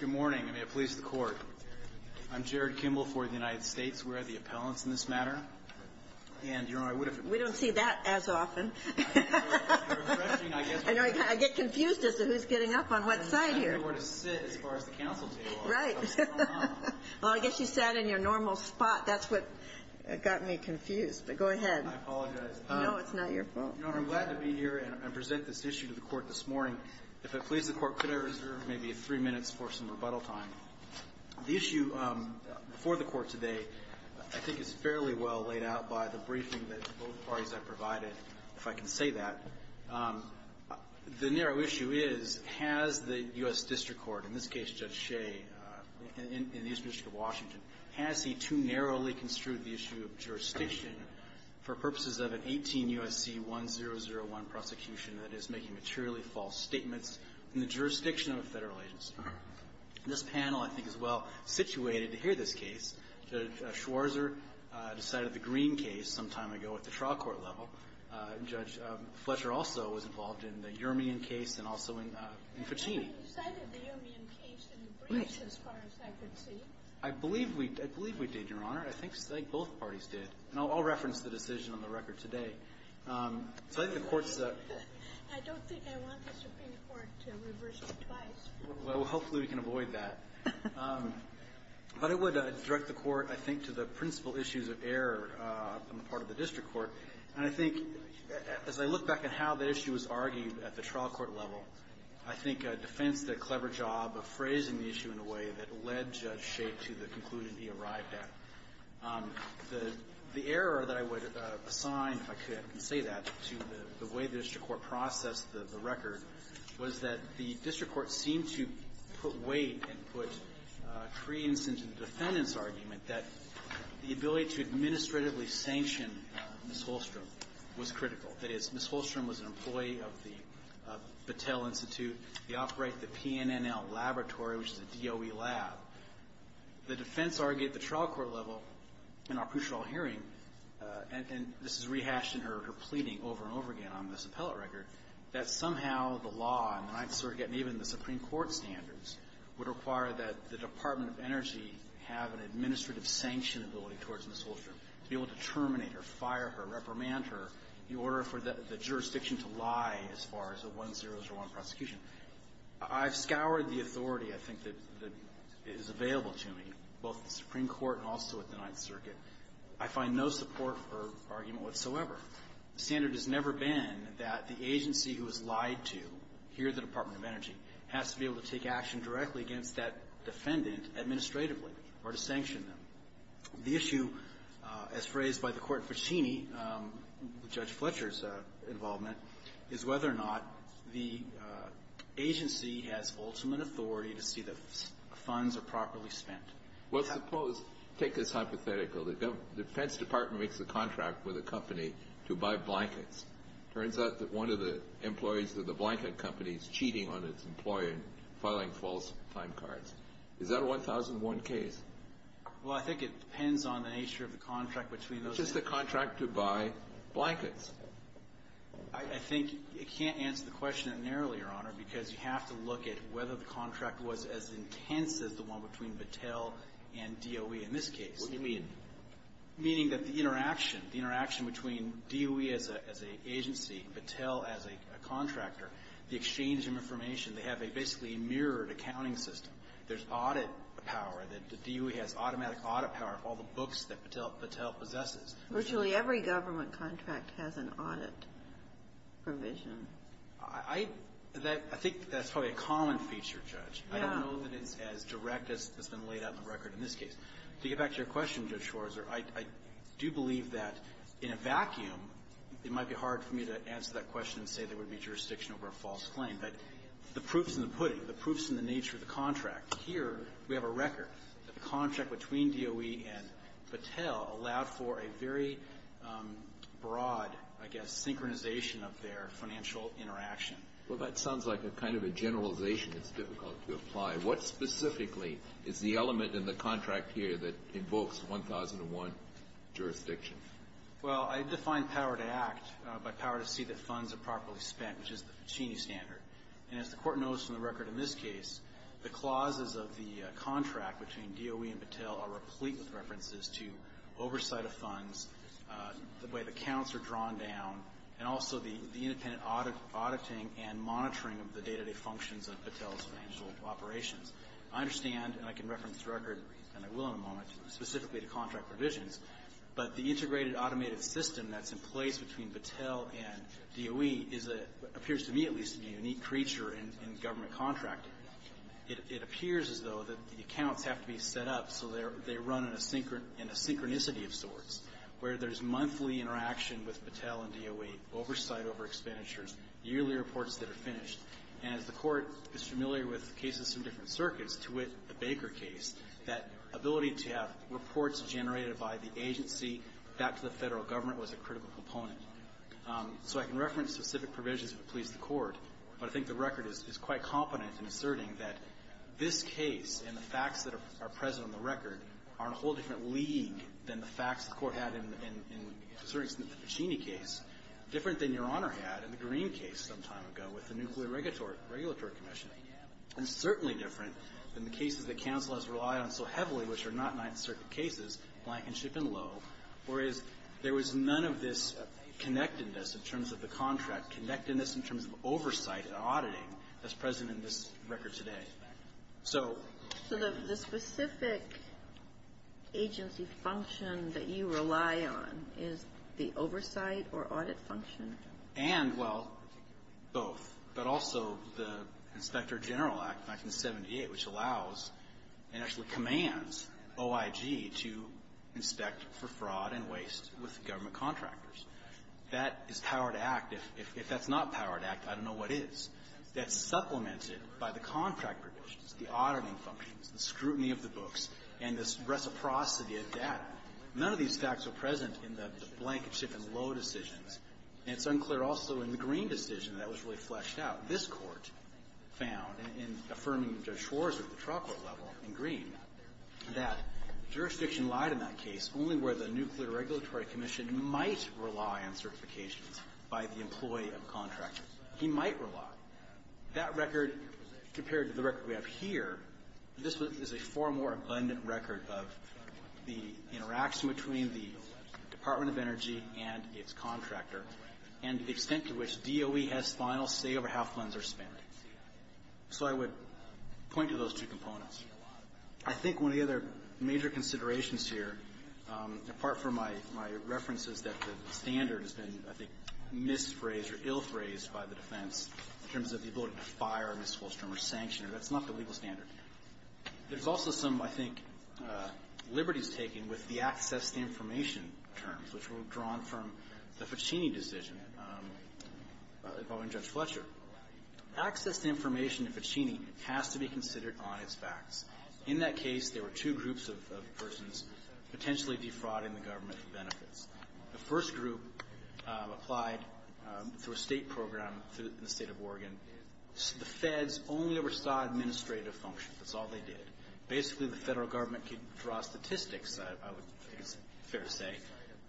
Good morning, and may it please the court. I'm Jared Kimball for the United States. We're at the appellants in this matter, and, you know, I would have We don't see that as often. I get confused as to who's getting up on what side here. I don't know where to sit as far as the counsel table. Right. Well, I guess you sat in your normal spot. That's what got me confused. But go ahead. I apologize. No, it's not your fault. I'm glad to be here and present this issue to the court this morning. If it pleases the court, could I reserve maybe three minutes for some rebuttal time? The issue before the court today I think is fairly well laid out by the briefing that both parties have provided, if I can say that. The narrow issue is, has the U.S. District Court, in this case Judge Shea in the Eastern District of Washington, has he too narrowly construed the issue of jurisdiction for purposes of an 18 U.S.C. 1001 prosecution, that is, making materially false statements in the jurisdiction of a Federal agency? This panel, I think, is well-situated to hear this case. Judge Schwarzer decided the Green case some time ago at the trial court level. Judge Fletcher also was involved in the Uramian case and also in Fittini. You cited the Uramian case in the briefs as far as I could see. I believe we did, Your Honor. I think both parties did. And I'll reference the decision on the record today. I don't think I want the Supreme Court to reverse it twice. Well, hopefully, we can avoid that. But it would direct the court, I think, to the principal issues of error on the part of the district court. And I think, as I look back at how the issue was argued at the trial court level, I think defense did a clever job of phrasing the issue in a way that led Judge Schaef to the conclusion he arrived at. The error that I would assign, if I could say that, to the way the district court processed the record was that the district court seemed to put weight and put creeds into the defendant's argument that the ability to administratively sanction Ms. Holstrom was critical. That is, Ms. Holstrom was an employee of the Battelle Institute. They operate the PNNL Laboratory, which is a DOE lab. The defense argued at the trial court level in our pre-trial hearing, and this is rehashed in her pleading over and over again on this appellate record, that somehow the law, and I sort of get even the Supreme Court standards, would require that the Department of Energy have an administrative sanction ability towards Ms. Holstrom to be able to terminate her, fire her, reprimand her, in order for the jurisdiction to lie as far as a 1001 prosecution. I've scoured the authority, I think, that is available to me, both in the Supreme Court and also at the Ninth Circuit. I find no support for argument whatsoever. The standard has never been that the agency who was lied to, here at the Department of Energy, has to be able to take action directly against that defendant administratively or to sanction them. The issue, as phrased by the Court Ficini, with Judge Fletcher's involvement, is whether or not the agency has ultimate authority to see that funds are properly spent. Well, suppose, take this hypothetically, the defense department makes a contract with a company to buy blankets. It turns out that one of the employees of the blanket company is cheating on its employer and filing false time cards. Is that a 1001 case? Well, I think it depends on the nature of the contract between those two. It's just a contract to buy blankets. I think it can't answer the question narrowly, Your Honor, because you have to look at whether the contract was as intense as the one between Battelle and DOE in this case. What do you mean? Meaning that the interaction, the interaction between DOE as an agency, Battelle as a contractor, the exchange of information, they have a basically mirrored accounting system. There's audit power. The DOE has automatic audit power of all the books that Battelle possesses. Virtually every government contract has an audit provision. I think that's probably a common feature, Judge. I don't know that it's as direct as has been laid out in the record in this case. To get back to your question, Judge Schwarzer, I do believe that in a vacuum, it might be hard for me to answer that question and say there would be jurisdiction over a false claim. But the proof's in the pudding. The proof's in the nature of the contract. Here, we have a record that the contract between DOE and Battelle allowed for a very broad, I guess, synchronization of their financial interaction. Well, that sounds like a kind of a generalization that's difficult to apply. What specifically is the element in the contract here that invokes 1001 jurisdiction? Well, I define power to act by power to see that funds are properly spent, which is the And as the Court knows from the record in this case, the clauses of the contract between DOE and Battelle are replete with references to oversight of funds, the way the counts are drawn down, and also the independent auditing and monitoring of the day-to-day functions of Battelle's financial operations. I understand, and I can reference the record, and I will in a moment, specifically to contract provisions, but the integrated automated system that's in place between creature and government contract, it appears as though that the accounts have to be set up so they run in a synchronicity of sorts, where there's monthly interaction with Battelle and DOE, oversight over expenditures, yearly reports that are finished. And as the Court is familiar with cases from different circuits, to wit, the Baker case, that ability to have reports generated by the agency back to the federal government was a critical component. So I can reference specific provisions if it pleases the Court. But I think the record is quite competent in asserting that this case and the facts that are present on the record are in a whole different league than the facts the Court had in asserting the Puccini case, different than Your Honor had in the Green case some time ago with the Nuclear Regulatory Commission, and certainly different than the cases that counsel has relied on so heavily, which are not Ninth Circuit cases, Blankenship and Lowe, whereas there was none of this connectedness in terms of the contract, connectedness in terms of oversight and auditing that's present in this record today. So the specific agency function that you rely on is the oversight or audit function? And, well, both. But also the Inspector General Act, 1978, which allows and actually commands OIG to inspect for fraud and waste with government contractors. That is power to act. If that's not power to act, I don't know what is. That's supplemented by the contract provisions, the auditing functions, the scrutiny of the books, and this reciprocity of data. None of these facts are present in the Blankenship and Lowe decisions. And it's unclear also in the Green decision that was really fleshed out. This Court found, in affirming Judge Schwarzer at the trial court level in Green, that jurisdiction lied in that case only where the Nuclear Regulatory Commission might rely on certifications by the employee of the contractor. He might rely. That record, compared to the record we have here, this is a far more abundant record of the interaction between the Department of Energy and its contractor and the extent to which DOE has final say over how funds are spent. So I would point to those two components. I think one of the other major considerations here, apart from my references that the standard has been, I think, misphrased or ill-phrased by the defense in terms of the ability to fire a misuse term or sanction it, that's not the legal standard. There's also some, I think, liberties taken with the access to information terms, which were drawn from the Ficini decision involving Judge Fletcher. Access to information in Ficini has to be considered on its facts. In that case, there were two groups of persons potentially defrauding the government of benefits. The first group applied through a state program in the state of Oregon. The feds only ever saw administrative functions. That's all they did. Basically, the federal government could draw statistics, I would think it's fair to say,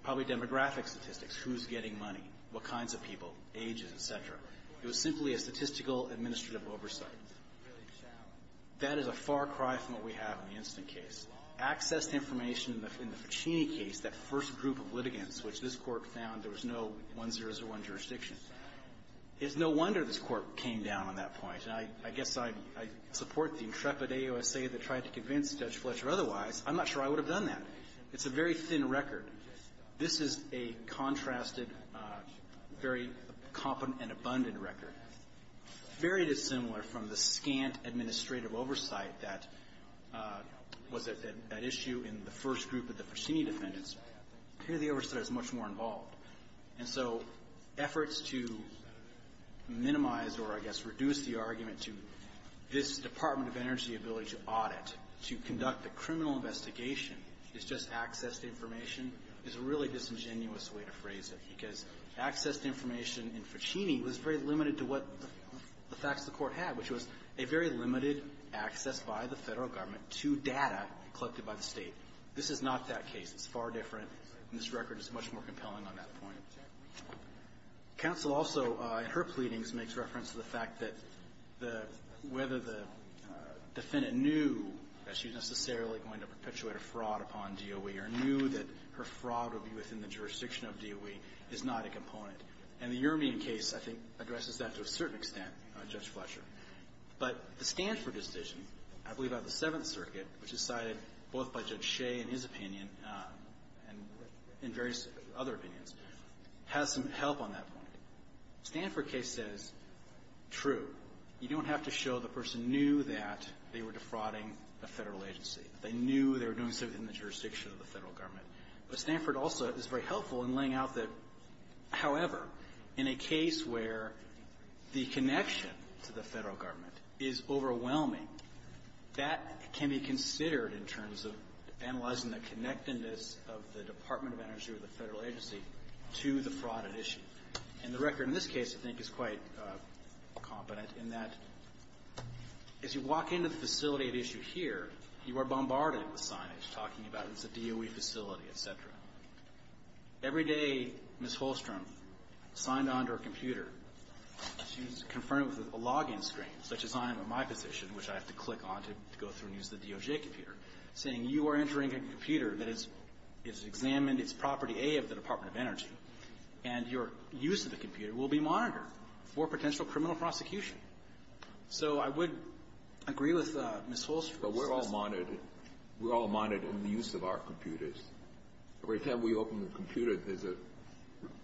probably demographic statistics, who's getting money, what kinds of people, ages, et cetera. It was simply a statistical administrative oversight. That is a far cry from what we have in the instant case. Access to information in the Ficini case, that first group of litigants, which this Court found there was no 1001 jurisdiction. It's no wonder this Court came down on that point. I guess I support the intrepid AOSA that tried to convince Judge Fletcher otherwise. I'm not sure I would have done that. It's a very thin record. This is a contrasted, very competent and abundant record. Very dissimilar from the scant administrative oversight that was at issue in the first group of the Ficini defendants. Here, the oversight is much more involved. And so efforts to minimize or I guess reduce the argument to this Department of Energy ability to audit, to conduct a criminal investigation, is just access to information in Ficini is a really disingenuous way to phrase it, because access to information in Ficini was very limited to what the facts of the Court had, which was a very limited access by the Federal government to data collected by the State. This is not that case. It's far different, and this record is much more compelling on that point. Counsel also, in her pleadings, makes reference to the fact that the – whether the defendant knew that she was necessarily going to perpetuate a fraud upon DOE or knew that her fraud would be within the jurisdiction of DOE is not a component. And the Urmian case, I think, addresses that to a certain extent, Judge Fletcher. But the Stanford decision, I believe out of the Seventh Circuit, which is cited both by Judge Shea in his opinion and in various other opinions, has some help on that point. The Stanford case says, true. You don't have to show the person knew that they were defrauding a Federal agency. They knew they were doing something in the jurisdiction of the Federal government. But Stanford also is very helpful in laying out that, however, in a case where the connection to the Federal government is overwhelming, that can be considered in terms of analyzing the connectedness of the Department of Energy or the Federal agency to the fraud at issue. And the record in this case, I think, is quite competent in that as you walk into the facility at issue here, you are bombarded with signage talking about it's a DOE facility, et cetera. Every day, Ms. Holstrom signed on to her computer, she was confirmed with a log-in screen, such as I am in my position, which I have to click on to go through and use the DOJ computer, saying you are entering a computer that is examined, it's property A of the Department of Energy, and your use of the computer will be monitored for potential criminal prosecution. So I would agree with Ms. Holstrom. Kennedy. But we're all monitored. We're all monitored in the use of our computers. Every time we open the computer, there's a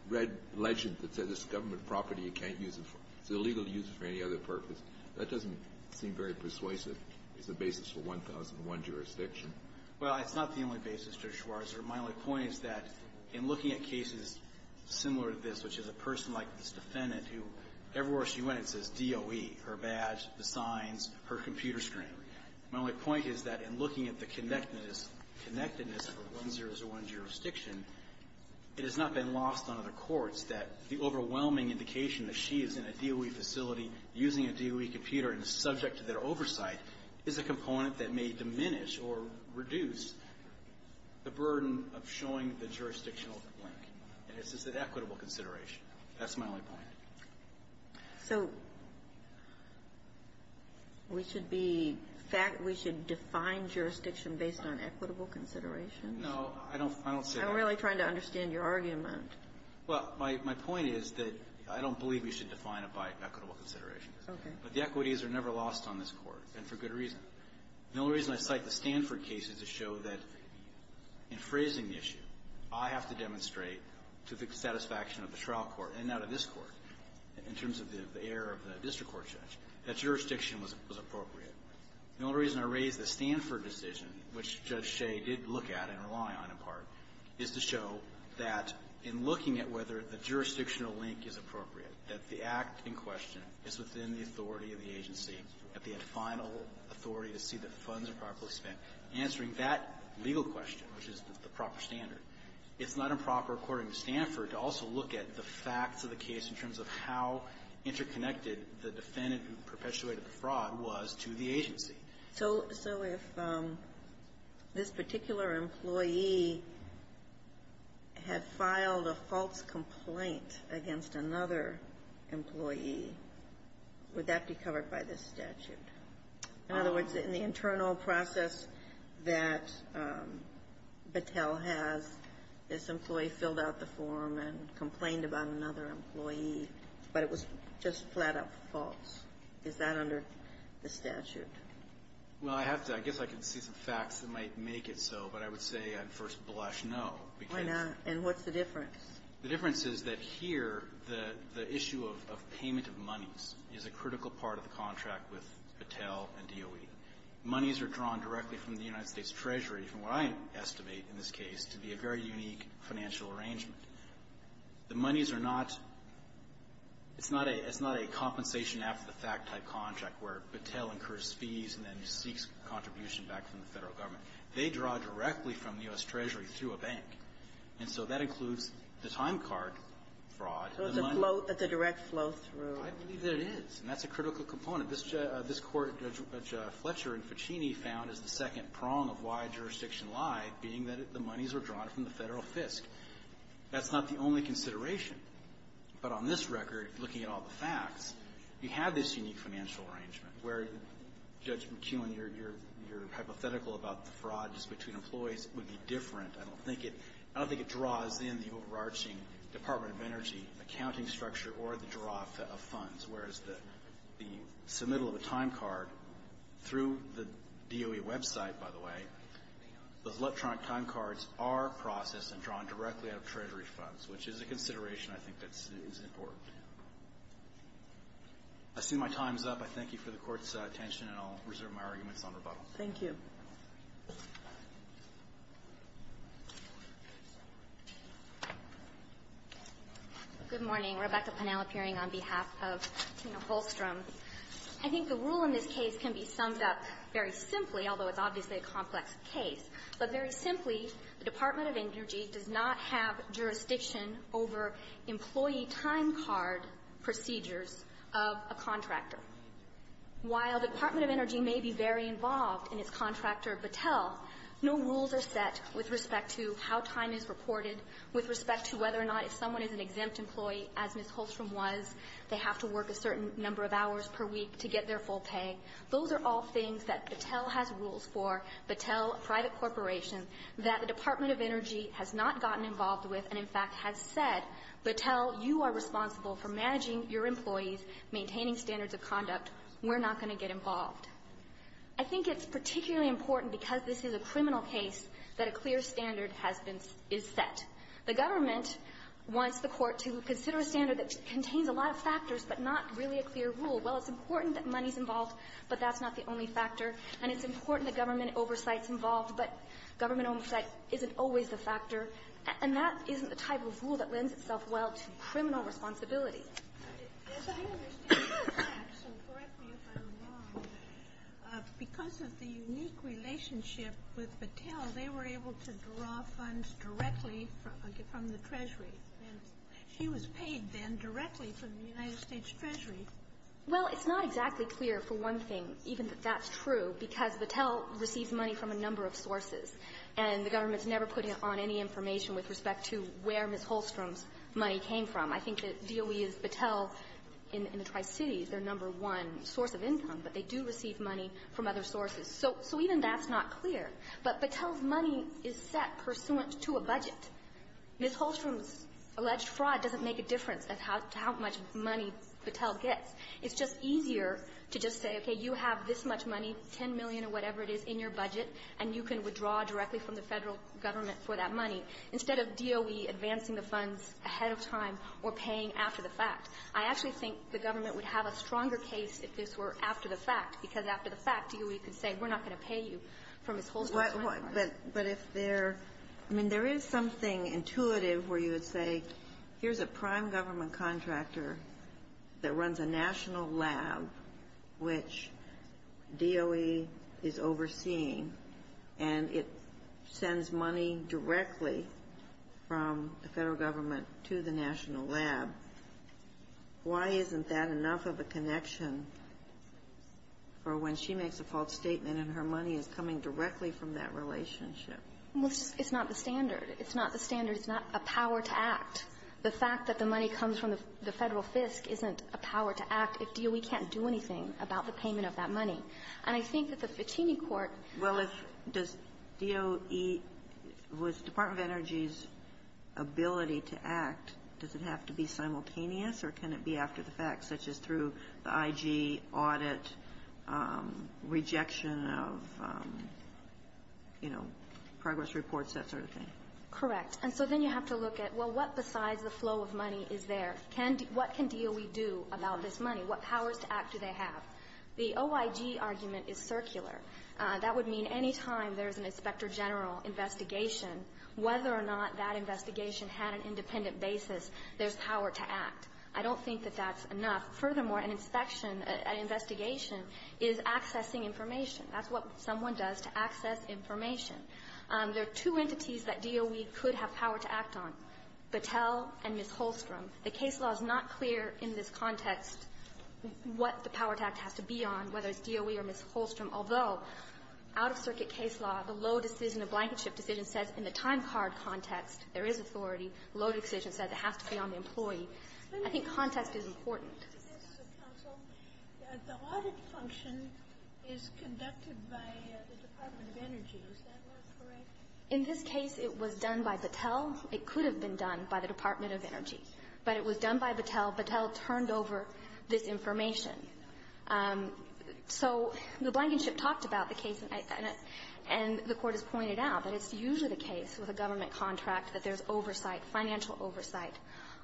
red legend that says it's government property, you can't use it. It's illegal to use it for any other purpose. That doesn't seem very persuasive as a basis for 1001 jurisdiction. Well, it's not the only basis, Judge Schwarzer. My only point is that in looking at cases similar to this, which is a person like this defendant who, everywhere she went, it says DOE, her badge, the signs, her computer screen. My only point is that in looking at the connectedness of a 1001 jurisdiction, it has not been lost on other courts that the overwhelming indication that she is in a DOE facility using a DOE computer and is subject to their oversight is a component that may diminish or reduce the burden of showing the jurisdictional link. And it's just an equitable consideration. That's my only point. So we should be fact we should define jurisdiction based on equitable consideration? No, I don't say that. I'm really trying to understand your argument. Well, my point is that I don't believe we should define it by equitable consideration. Okay. But the equities are never lost on this court, and for good reason. The only reason I cite the Stanford case is to show that, in phrasing the issue, I have to demonstrate to the satisfaction of the trial court, and now to this court, in terms of the error of the district court judge, that jurisdiction was appropriate. The only reason I raise the Stanford decision, which Judge Shea did look at and rely on in part, is to show that in looking at whether the jurisdictional link is appropriate, that the act in question is within the authority of the agency, that they have final authority to see that the funds are properly spent. Answering that legal question, which is the proper standard, it's not improper, according to Stanford, to also look at the facts of the case in terms of how interconnected the defendant who perpetuated the fraud was to the agency. So if this particular employee had filed a false complaint against another employee, would that be covered by this statute? In other words, in the internal process that Battelle has, this employee filled out the form and complained about another employee, but it was just flat-out false. Is that under the statute? Well, I have to – I guess I can see some facts that might make it so, but I would say, on first blush, no, because – Why not? And what's the difference? The difference is that here, the issue of payment of monies is a critical part of the contract with Battelle and DOE. Monies are drawn directly from the United States Treasury, from what I estimate in this case to be a very unique financial arrangement. The monies are not – it's not a compensation after the fact type contract, where Battelle incurs fees and then seeks contribution back from the Federal Government. They draw directly from the U.S. Treasury through a bank. And so that includes the time card fraud. So it's a flow – it's a direct flow-through. I believe that it is. And that's a critical component. This – this Court, Judge Fletcher and Ficini found, is the second prong of why jurisdiction lied, being that the monies were drawn from the Federal FISC. That's not the only consideration. But on this record, looking at all the facts, you have this unique financial arrangement, where, Judge McEwen, your hypothetical about the fraud just between employees would be different. I don't think it – I don't think it draws in the overarching Department of Energy accounting structure or the draw of funds, whereas the submittal of a time card through the DOE website, by the way, those electronic time cards are processed and drawn directly out of Treasury funds, which is a consideration I think that's – is important. I see my time's up. I thank you for the Court's attention, and I'll reserve my arguments on rebuttal. Thank you. Good morning. Rebecca Pennell appearing on behalf of Tina Holstrom. I think the rule in this case can be summed up very simply, although it's obviously a complex case. But very simply, the Department of Energy does not have jurisdiction over employee time card procedures of a contractor. While the Department of Energy may be very involved in its contractor, Battelle, no rules are set with respect to how time is reported, with respect to whether or not if someone is an exempt employee, as Ms. Holstrom was, they have to work a certain number of hours per week to get their full pay. Those are all things that Battelle has rules for, Battelle Private Corporation, that the Department of Energy has not gotten involved with and, in fact, has said, Battelle, you are responsible for managing your employees, maintaining standards of conduct. We're not going to get involved. I think it's particularly important, because this is a criminal case, that a clear standard has been – is set. The government wants the Court to consider a standard that contains a lot of factors but not really a clear rule. Well, it's important that money's involved, but that's not the only factor. And it's important that government oversight's involved, but government oversight isn't always a factor, and that isn't the type of rule that lends itself well to criminal responsibility. Ginsburg. As I understand the facts, and correct me if I'm wrong, because of the unique relationship with Battelle, they were able to draw funds directly from the Treasury, and she was paid then directly from the United States Treasury. Well, it's not exactly clear, for one thing, even that that's true, because Battelle receives money from a number of sources, and the government's never put on any information with respect to where Ms. Holstrom's money came from. I think that DOE is Battelle, in the Tri-Cities, their number one source of income, but they do receive money from other sources. So even that's not clear. But Battelle's money is set pursuant to a budget. Ms. Holstrom's alleged fraud doesn't make a difference as to how much money Battelle gets. It's just easier to just say, okay, you have this much money, $10 million or whatever it is, in your budget, and you can withdraw directly from the Federal government for that money, instead of DOE advancing the funds ahead of time or paying after the fact. I actually think the government would have a stronger case if this were after the fact, because after the fact, DOE could say, we're not going to pay you for Ms. Holstrom's money. But if there – I mean, there is something intuitive where you would say, here's a prime government contractor that runs a national lab, which DOE is overseeing, and it sends money directly from the Federal government to the national lab. Why isn't that enough of a connection for when she makes a false statement and her money is coming directly from that relationship? It's not the standard. It's not the standard. It's not a power to act. The fact that the money comes from the Federal FISC isn't a power to act if DOE can't do anything about the payment of that money. And I think that the Fittini court has to be able to say, well, if – does DOE – was Department of Energy's ability to act, does it have to be simultaneous or can it be after the fact, such as through the IG audit, rejection of, you know, progress reports, that sort of thing? Correct. And so then you have to look at, well, what besides the flow of money is there? Can – what can DOE do about this money? What powers to act do they have? The OIG argument is circular. That would mean any time there's an inspector general investigation, whether or not that investigation had an independent basis, there's power to act. I don't think that that's enough. Furthermore, an inspection, an investigation, is accessing information. That's what someone does to access information. There are two entities that DOE could have power to act on, Battelle and Ms. Holstrom. The case law is not clear in this context what the power to act has to be on, whether it's DOE or Ms. Holstrom, although out-of-circuit case law, the low decision, the blanket shift decision says in the time card context there is authority. The low decision says it has to be on the employee. I think context is important. The audit function is conducted by the Department of Energy. Is that correct? In this case, it was done by Battelle. It could have been done by the Department of Energy. But it was done by Battelle. Battelle turned over this information. So the blanket shift talked about the case, and the Court has pointed out that it's usually the case with a government contract that there's oversight, financial oversight.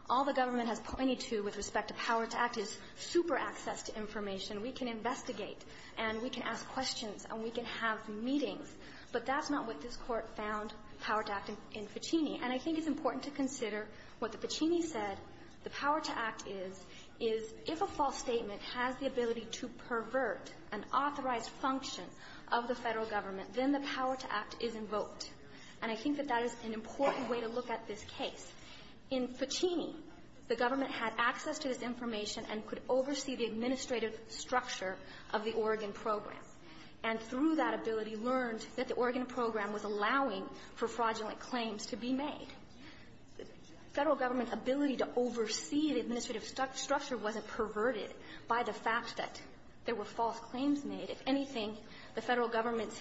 All the government has pointed to with respect to power to act is super access to information. We can investigate, and we can ask questions, and we can have meetings. But that's not what this Court found power to act in Ficini. And I think it's important to consider what the Ficini said the power to act is, is if a false statement has the ability to pervert an authorized function of the Federal government, then the power to act is invoked. And I think that that is an important way to look at this case. In Ficini, the government had access to this information and could oversee the administrative structure of the Oregon program, and through that ability learned that the Oregon program was allowing for fraudulent claims to be made. The Federal government's ability to oversee the administrative structure wasn't perverted by the fact that there were false claims made. If anything, the Federal government's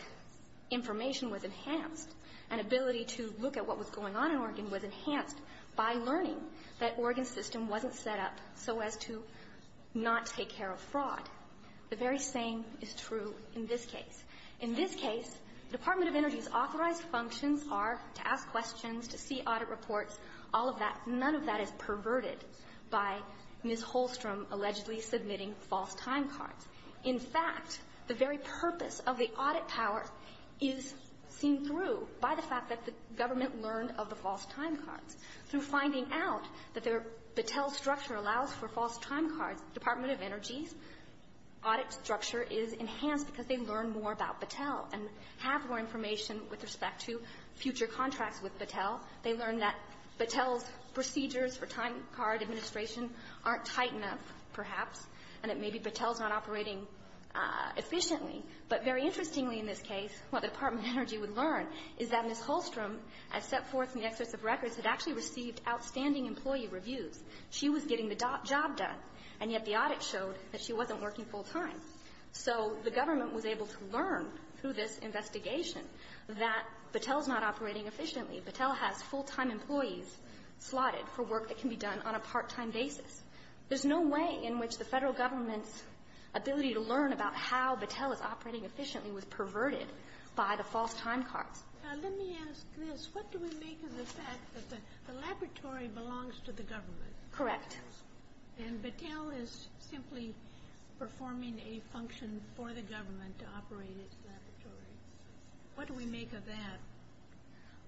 information was enhanced. An ability to look at what was going on in Oregon was enhanced by learning that Oregon's system wasn't set up so as to not take care of fraud. The very same is true in this case. In this case, the Department of Energy's authorized functions are to ask questions, to see audit reports, all of that. None of that is perverted by Ms. Holstrom allegedly submitting false time cards. In fact, the very purpose of the audit power is seen through by Ms. Holstrom's by the fact that the government learned of the false time cards. Through finding out that their Battelle structure allows for false time cards, Department of Energy's audit structure is enhanced because they learn more about Battelle and have more information with respect to future contracts with Battelle. They learn that Battelle's procedures for time card administration aren't tight enough, perhaps, and that maybe Battelle's not operating efficiently. But very interestingly in this case, what the Department of Energy would learn is that Ms. Holstrom, as set forth in the excess of records, had actually received outstanding employee reviews. She was getting the job done, and yet the audit showed that she wasn't working full time. So the government was able to learn through this investigation that Battelle's not operating efficiently. Battelle has full-time employees slotted for work that can be done on a part-time basis. There's no way in which the Federal government's ability to learn about how Battelle is operating efficiently was perverted by the false time cards. Now, let me ask this. What do we make of the fact that the laboratory belongs to the government? Correct. And Battelle is simply performing a function for the government to operate its laboratory. What do we make of that?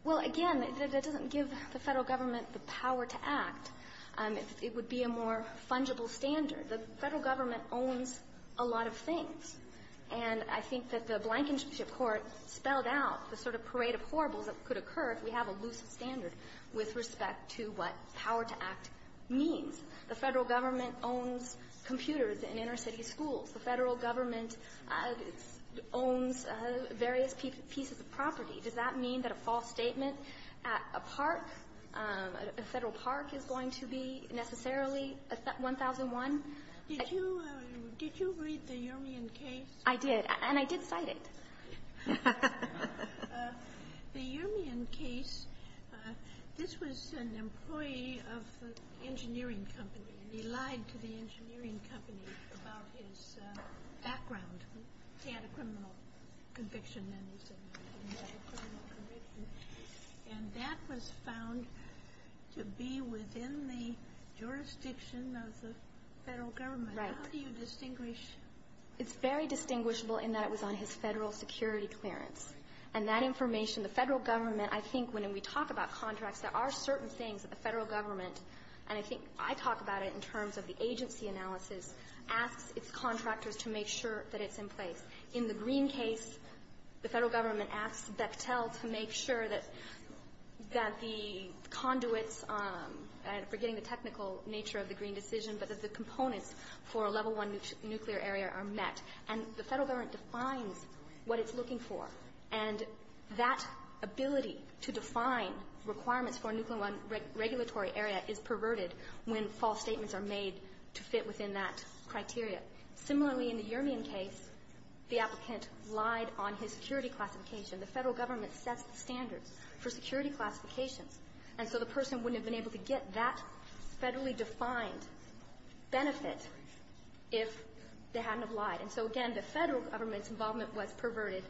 Well, again, that doesn't give the Federal government the power to act. It would be a more fungible standard. The Federal government owns a lot of things. And I think that the Blankenship Court spelled out the sort of parade of horribles that could occur if we have a loose standard with respect to what power to act means. The Federal government owns computers in inner-city schools. The Federal government owns various pieces of property. Does that mean that a false statement at a park, a Federal park, is going to be necessarily 1001? Did you read the Urimian case? I did. And I did cite it. The Urimian case, this was an employee of the engineering company. And he lied to the engineering company about his background. He had a criminal conviction. And he said he had a criminal conviction. And that was found to be within the jurisdiction of the Federal government. Right. How do you distinguish? It's very distinguishable in that it was on his Federal security clearance. And that information, the Federal government, I think when we talk about contracts, there are certain things that the Federal government, and I think I talk about it in terms of the agency analysis, asks its contractors to make sure that it's in place. In the Green case, the Federal government asks Bechtel to make sure that the conduits — I'm forgetting the technical nature of the Green decision, but that the components for a level one nuclear area are met. And the Federal government defines what it's looking for. And that ability to define requirements for a nuclear one regulatory area is perverted when false statements are made to fit within that criteria. Similarly, in the Yermian case, the applicant lied on his security classification. The Federal government sets the standards for security classifications. And so the person wouldn't have been able to get that Federally-defined benefit if they hadn't have lied. And so, again, the Federal government's involvement was perverted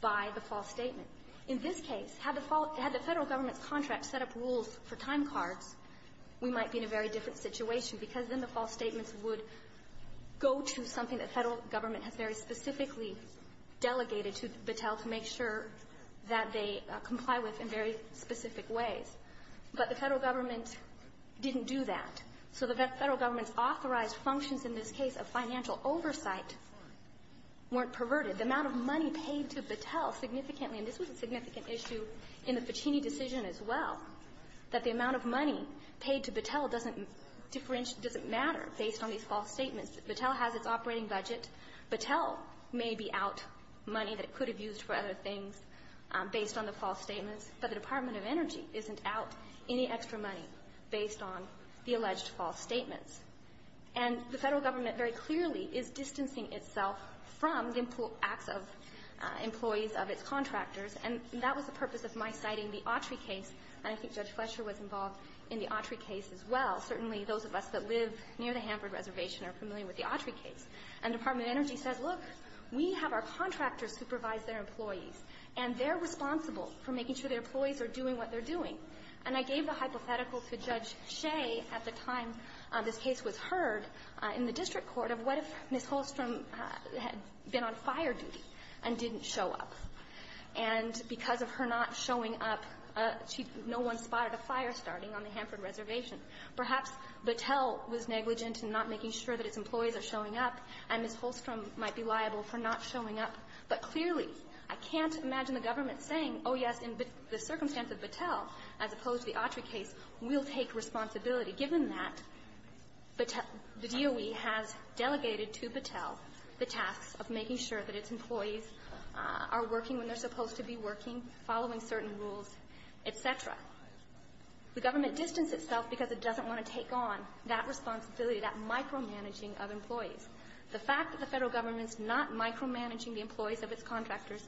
by the false statement. In this case, had the Federal government's contract set up rules for time cards, we might be in a very different situation because then the false statements would go to something the Federal government has very specifically delegated to Bechtel to make sure that they comply with in very specific ways. But the Federal government didn't do that. So the Federal government's authorized functions in this case of financial oversight weren't perverted. The amount of money paid to Bechtel significantly — and this was a significant issue in the Ficini decision as well — that the amount of money paid to Bechtel doesn't differentiate — doesn't matter based on these false statements. Bechtel has its operating budget. Bechtel may be out money that it could have used for other things based on the false statements, but the Department of Energy isn't out any extra money based on the alleged false statements. And the Federal government very clearly is distancing itself from the acts of employees of its contractors, and that was the purpose of my citing the Autry case. And I think Judge Fletcher was involved in the Autry case as well. Certainly those of us that live near the Hanford Reservation are familiar with the Autry case. And Department of Energy says, look, we have our contractors supervise their employees, and they're responsible for making sure their employees are doing what they're doing. And I gave a hypothetical to Judge Shea at the time this case was heard in the district court of, what if Ms. Holstrom had been on fire duty and didn't show up? And because of her not showing up, she no one spotted a fire starting on the Hanford Reservation. Perhaps Bechtel was negligent in not making sure that its employees are showing up, and Ms. Holstrom might be liable for not showing up. But clearly, I can't imagine the government saying, oh, yes, in the circumstance of Bechtel, as opposed to the Autry case, we'll take responsibility, given that the DOE has delegated to Bechtel the tasks of making sure that its employees are working when they're supposed to be working, following certain rules, et cetera. The government distanced itself because it doesn't want to take on that responsibility, that micromanaging of employees. The fact that the federal government's not micromanaging the employees of its contractors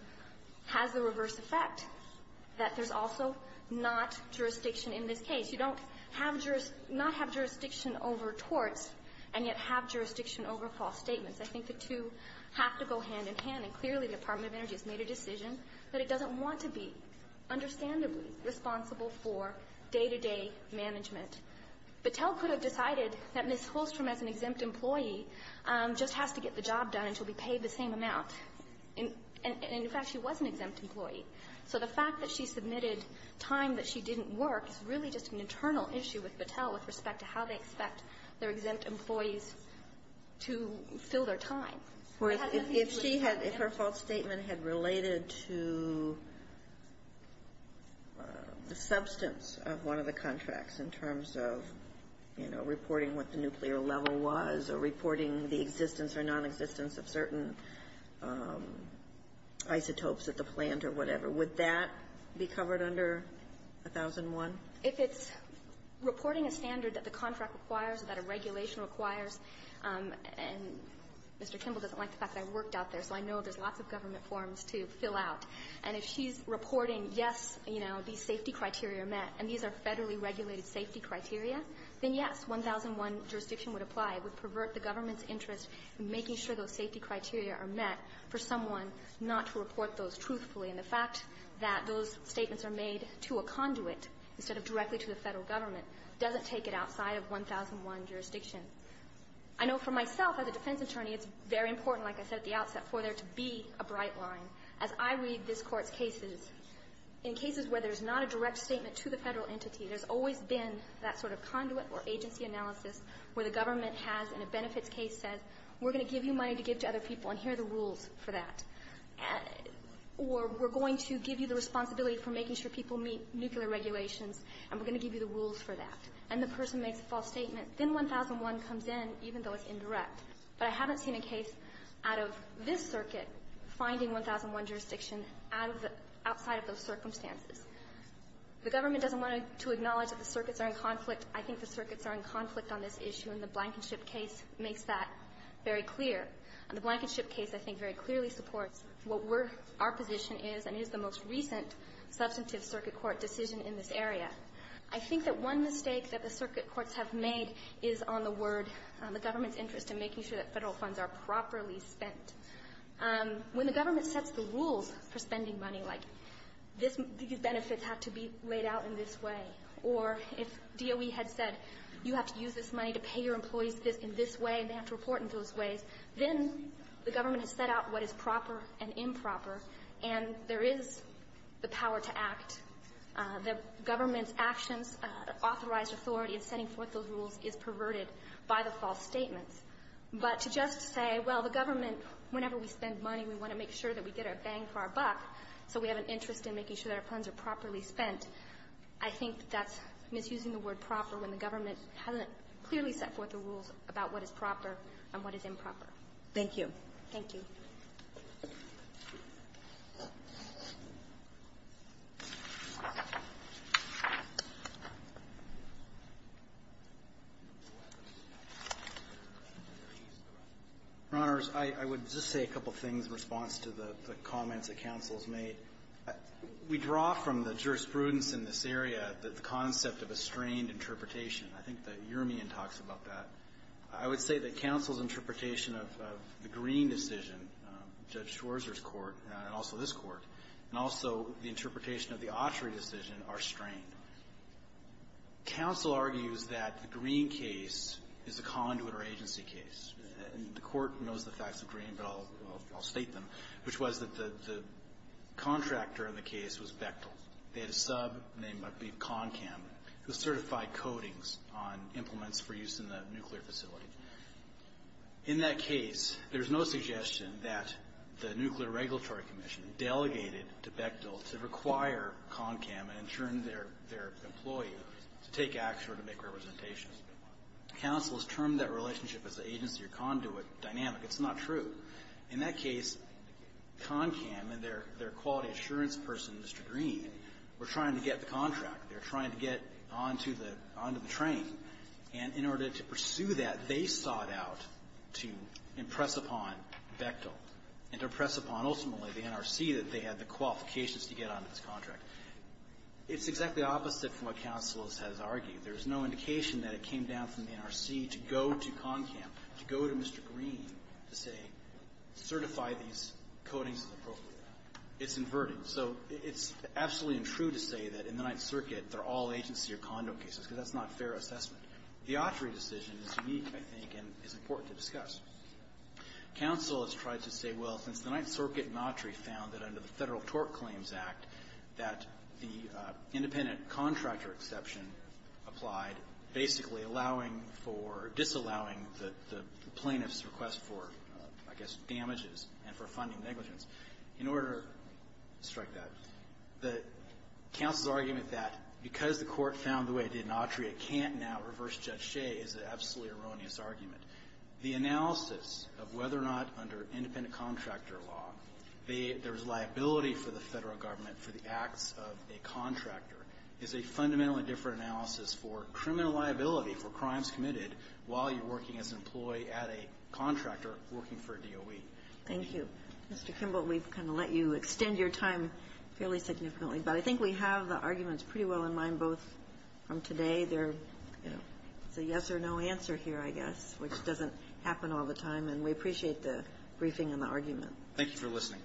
has the reverse effect, that there's also not jurisdiction in this case. You don't have jurisdiction, not have jurisdiction over torts, and yet have jurisdiction over false statements. I think the two have to go hand in hand. And clearly, the Department of Energy has made a decision that it doesn't want to be, understandably, responsible for day-to-day management. Bechtel could have decided that Ms. Holstrom, as an exempt employee, just has to get the job done until we pay the same amount. And, in fact, she was an exempt employee. So the fact that she submitted time that she didn't work is really just an internal issue with Bechtel with respect to how they expect their exempt employees to fill their time. If she had, if her false statement had related to the substance of one of the contracts in terms of, you know, reporting what the nuclear level was or reporting the existence or nonexistence of certain isotopes at the plant or whatever, would that be covered under 1001? If it's reporting a standard that the contract requires, that a regulation requires, and Mr. Kimball doesn't like the fact that I worked out there, so I know there's lots of government forms to fill out, and if she's reporting, yes, you know, these safety criteria are met, and these are Federally regulated safety criteria, then, yes, 1001 jurisdiction would apply. It would pervert the government's interest in making sure those safety criteria are met for someone not to report those truthfully. And the fact that those statements are made to a conduit instead of directly to the I know for myself, as a defense attorney, it's very important, like I said at the outset, for there to be a bright line. As I read this Court's cases, in cases where there's not a direct statement to the Federal entity, there's always been that sort of conduit or agency analysis where the government has, in a benefits case, said, we're going to give you money to give to other people and here are the rules for that, or we're going to give you the responsibility for making sure people meet nuclear regulations, and we're going to give you the rules for that. And the person makes a false statement, then 1001 comes in, even though it's indirect. But I haven't seen a case out of this circuit finding 1001 jurisdiction outside of those circumstances. The government doesn't want to acknowledge that the circuits are in conflict. I think the circuits are in conflict on this issue, and the Blankenship case makes that very clear. And the Blankenship case, I think, very clearly supports what we're – our position is and is the most recent substantive circuit court decision in this area. I think that one mistake that the circuit courts have made is on the word, the government's interest in making sure that Federal funds are properly spent. When the government sets the rules for spending money, like this – these benefits have to be laid out in this way, or if DOE had said you have to use this money to pay your employees in this way and they have to report in those ways, then the government has set out what is proper and improper, and there is the power to act. The government's actions, authorized authority in setting forth those rules is perverted by the false statements. But to just say, well, the government, whenever we spend money, we want to make sure that we get our bang for our buck, so we have an interest in making sure that our funds are properly spent, I think that's misusing the word proper when the government hasn't clearly set forth the rules about what is proper and what is improper. Thank you. Thank you. Roberts. I would just say a couple of things in response to the comments that counsel has made. We draw from the jurisprudence in this area the concept of a strained interpretation. I think that Uramian talks about that. I would say that counsel's interpretation of the Green decision, Judge Schwarzer's court, and also this court, and also the interpretation of the Autry decision are strained. Counsel argues that the Green case is a conduit or agency case. And the court knows the facts of Green, but I'll state them, which was that the contractor in the case was Bechtel. They had a sub named Concam who certified codings on implements for use in the nuclear facility. In that case, there's no suggestion that the Nuclear Regulatory Commission delegated to Bechtel to require Concam and turn their employee to take action or to make representations. Counsel has termed that relationship as an agency or conduit dynamic. It's not true. In that case, Concam and their quality assurance person, Mr. Green, were trying to get the contract. They were trying to get onto the train. And in order to pursue that, they sought out to impress upon Bechtel and to impress upon ultimately the NRC that they had the qualifications to get onto this contract. It's exactly opposite from what counsel has argued. There's no indication that it came down from the NRC to go to Concam, to go to Mr. Green to say, certify these codings as appropriate. It's inverted. So it's absolutely untrue to say that in the Ninth Circuit, they're all agency or conduit cases, because that's not fair assessment. The Autry decision is unique, I think, and is important to discuss. Counsel has tried to say, well, since the Ninth Circuit in Autry found that under the Federal Tort Claims Act that the independent contractor exception applied, basically allowing for or disallowing the plaintiff's request for, I guess, damages and for funding negligence. In order to strike that, the counsel's argument that because the Court found the way it did in Autry, it can't now reverse Judge Shea is an absolutely erroneous argument. The analysis of whether or not under independent contractor law, there's liability for the Federal government for the acts of a contractor is a fundamentally different analysis for criminal liability for crimes committed while you're working as an employee at a contractor working for DOE. Thank you. Mr. Kimball, we've kind of let you extend your time fairly significantly. But I think we have the arguments pretty well in mind, both from today. There's a yes or no answer here, I guess, which doesn't happen all the time. And we appreciate the briefing and the argument. Thank you for listening.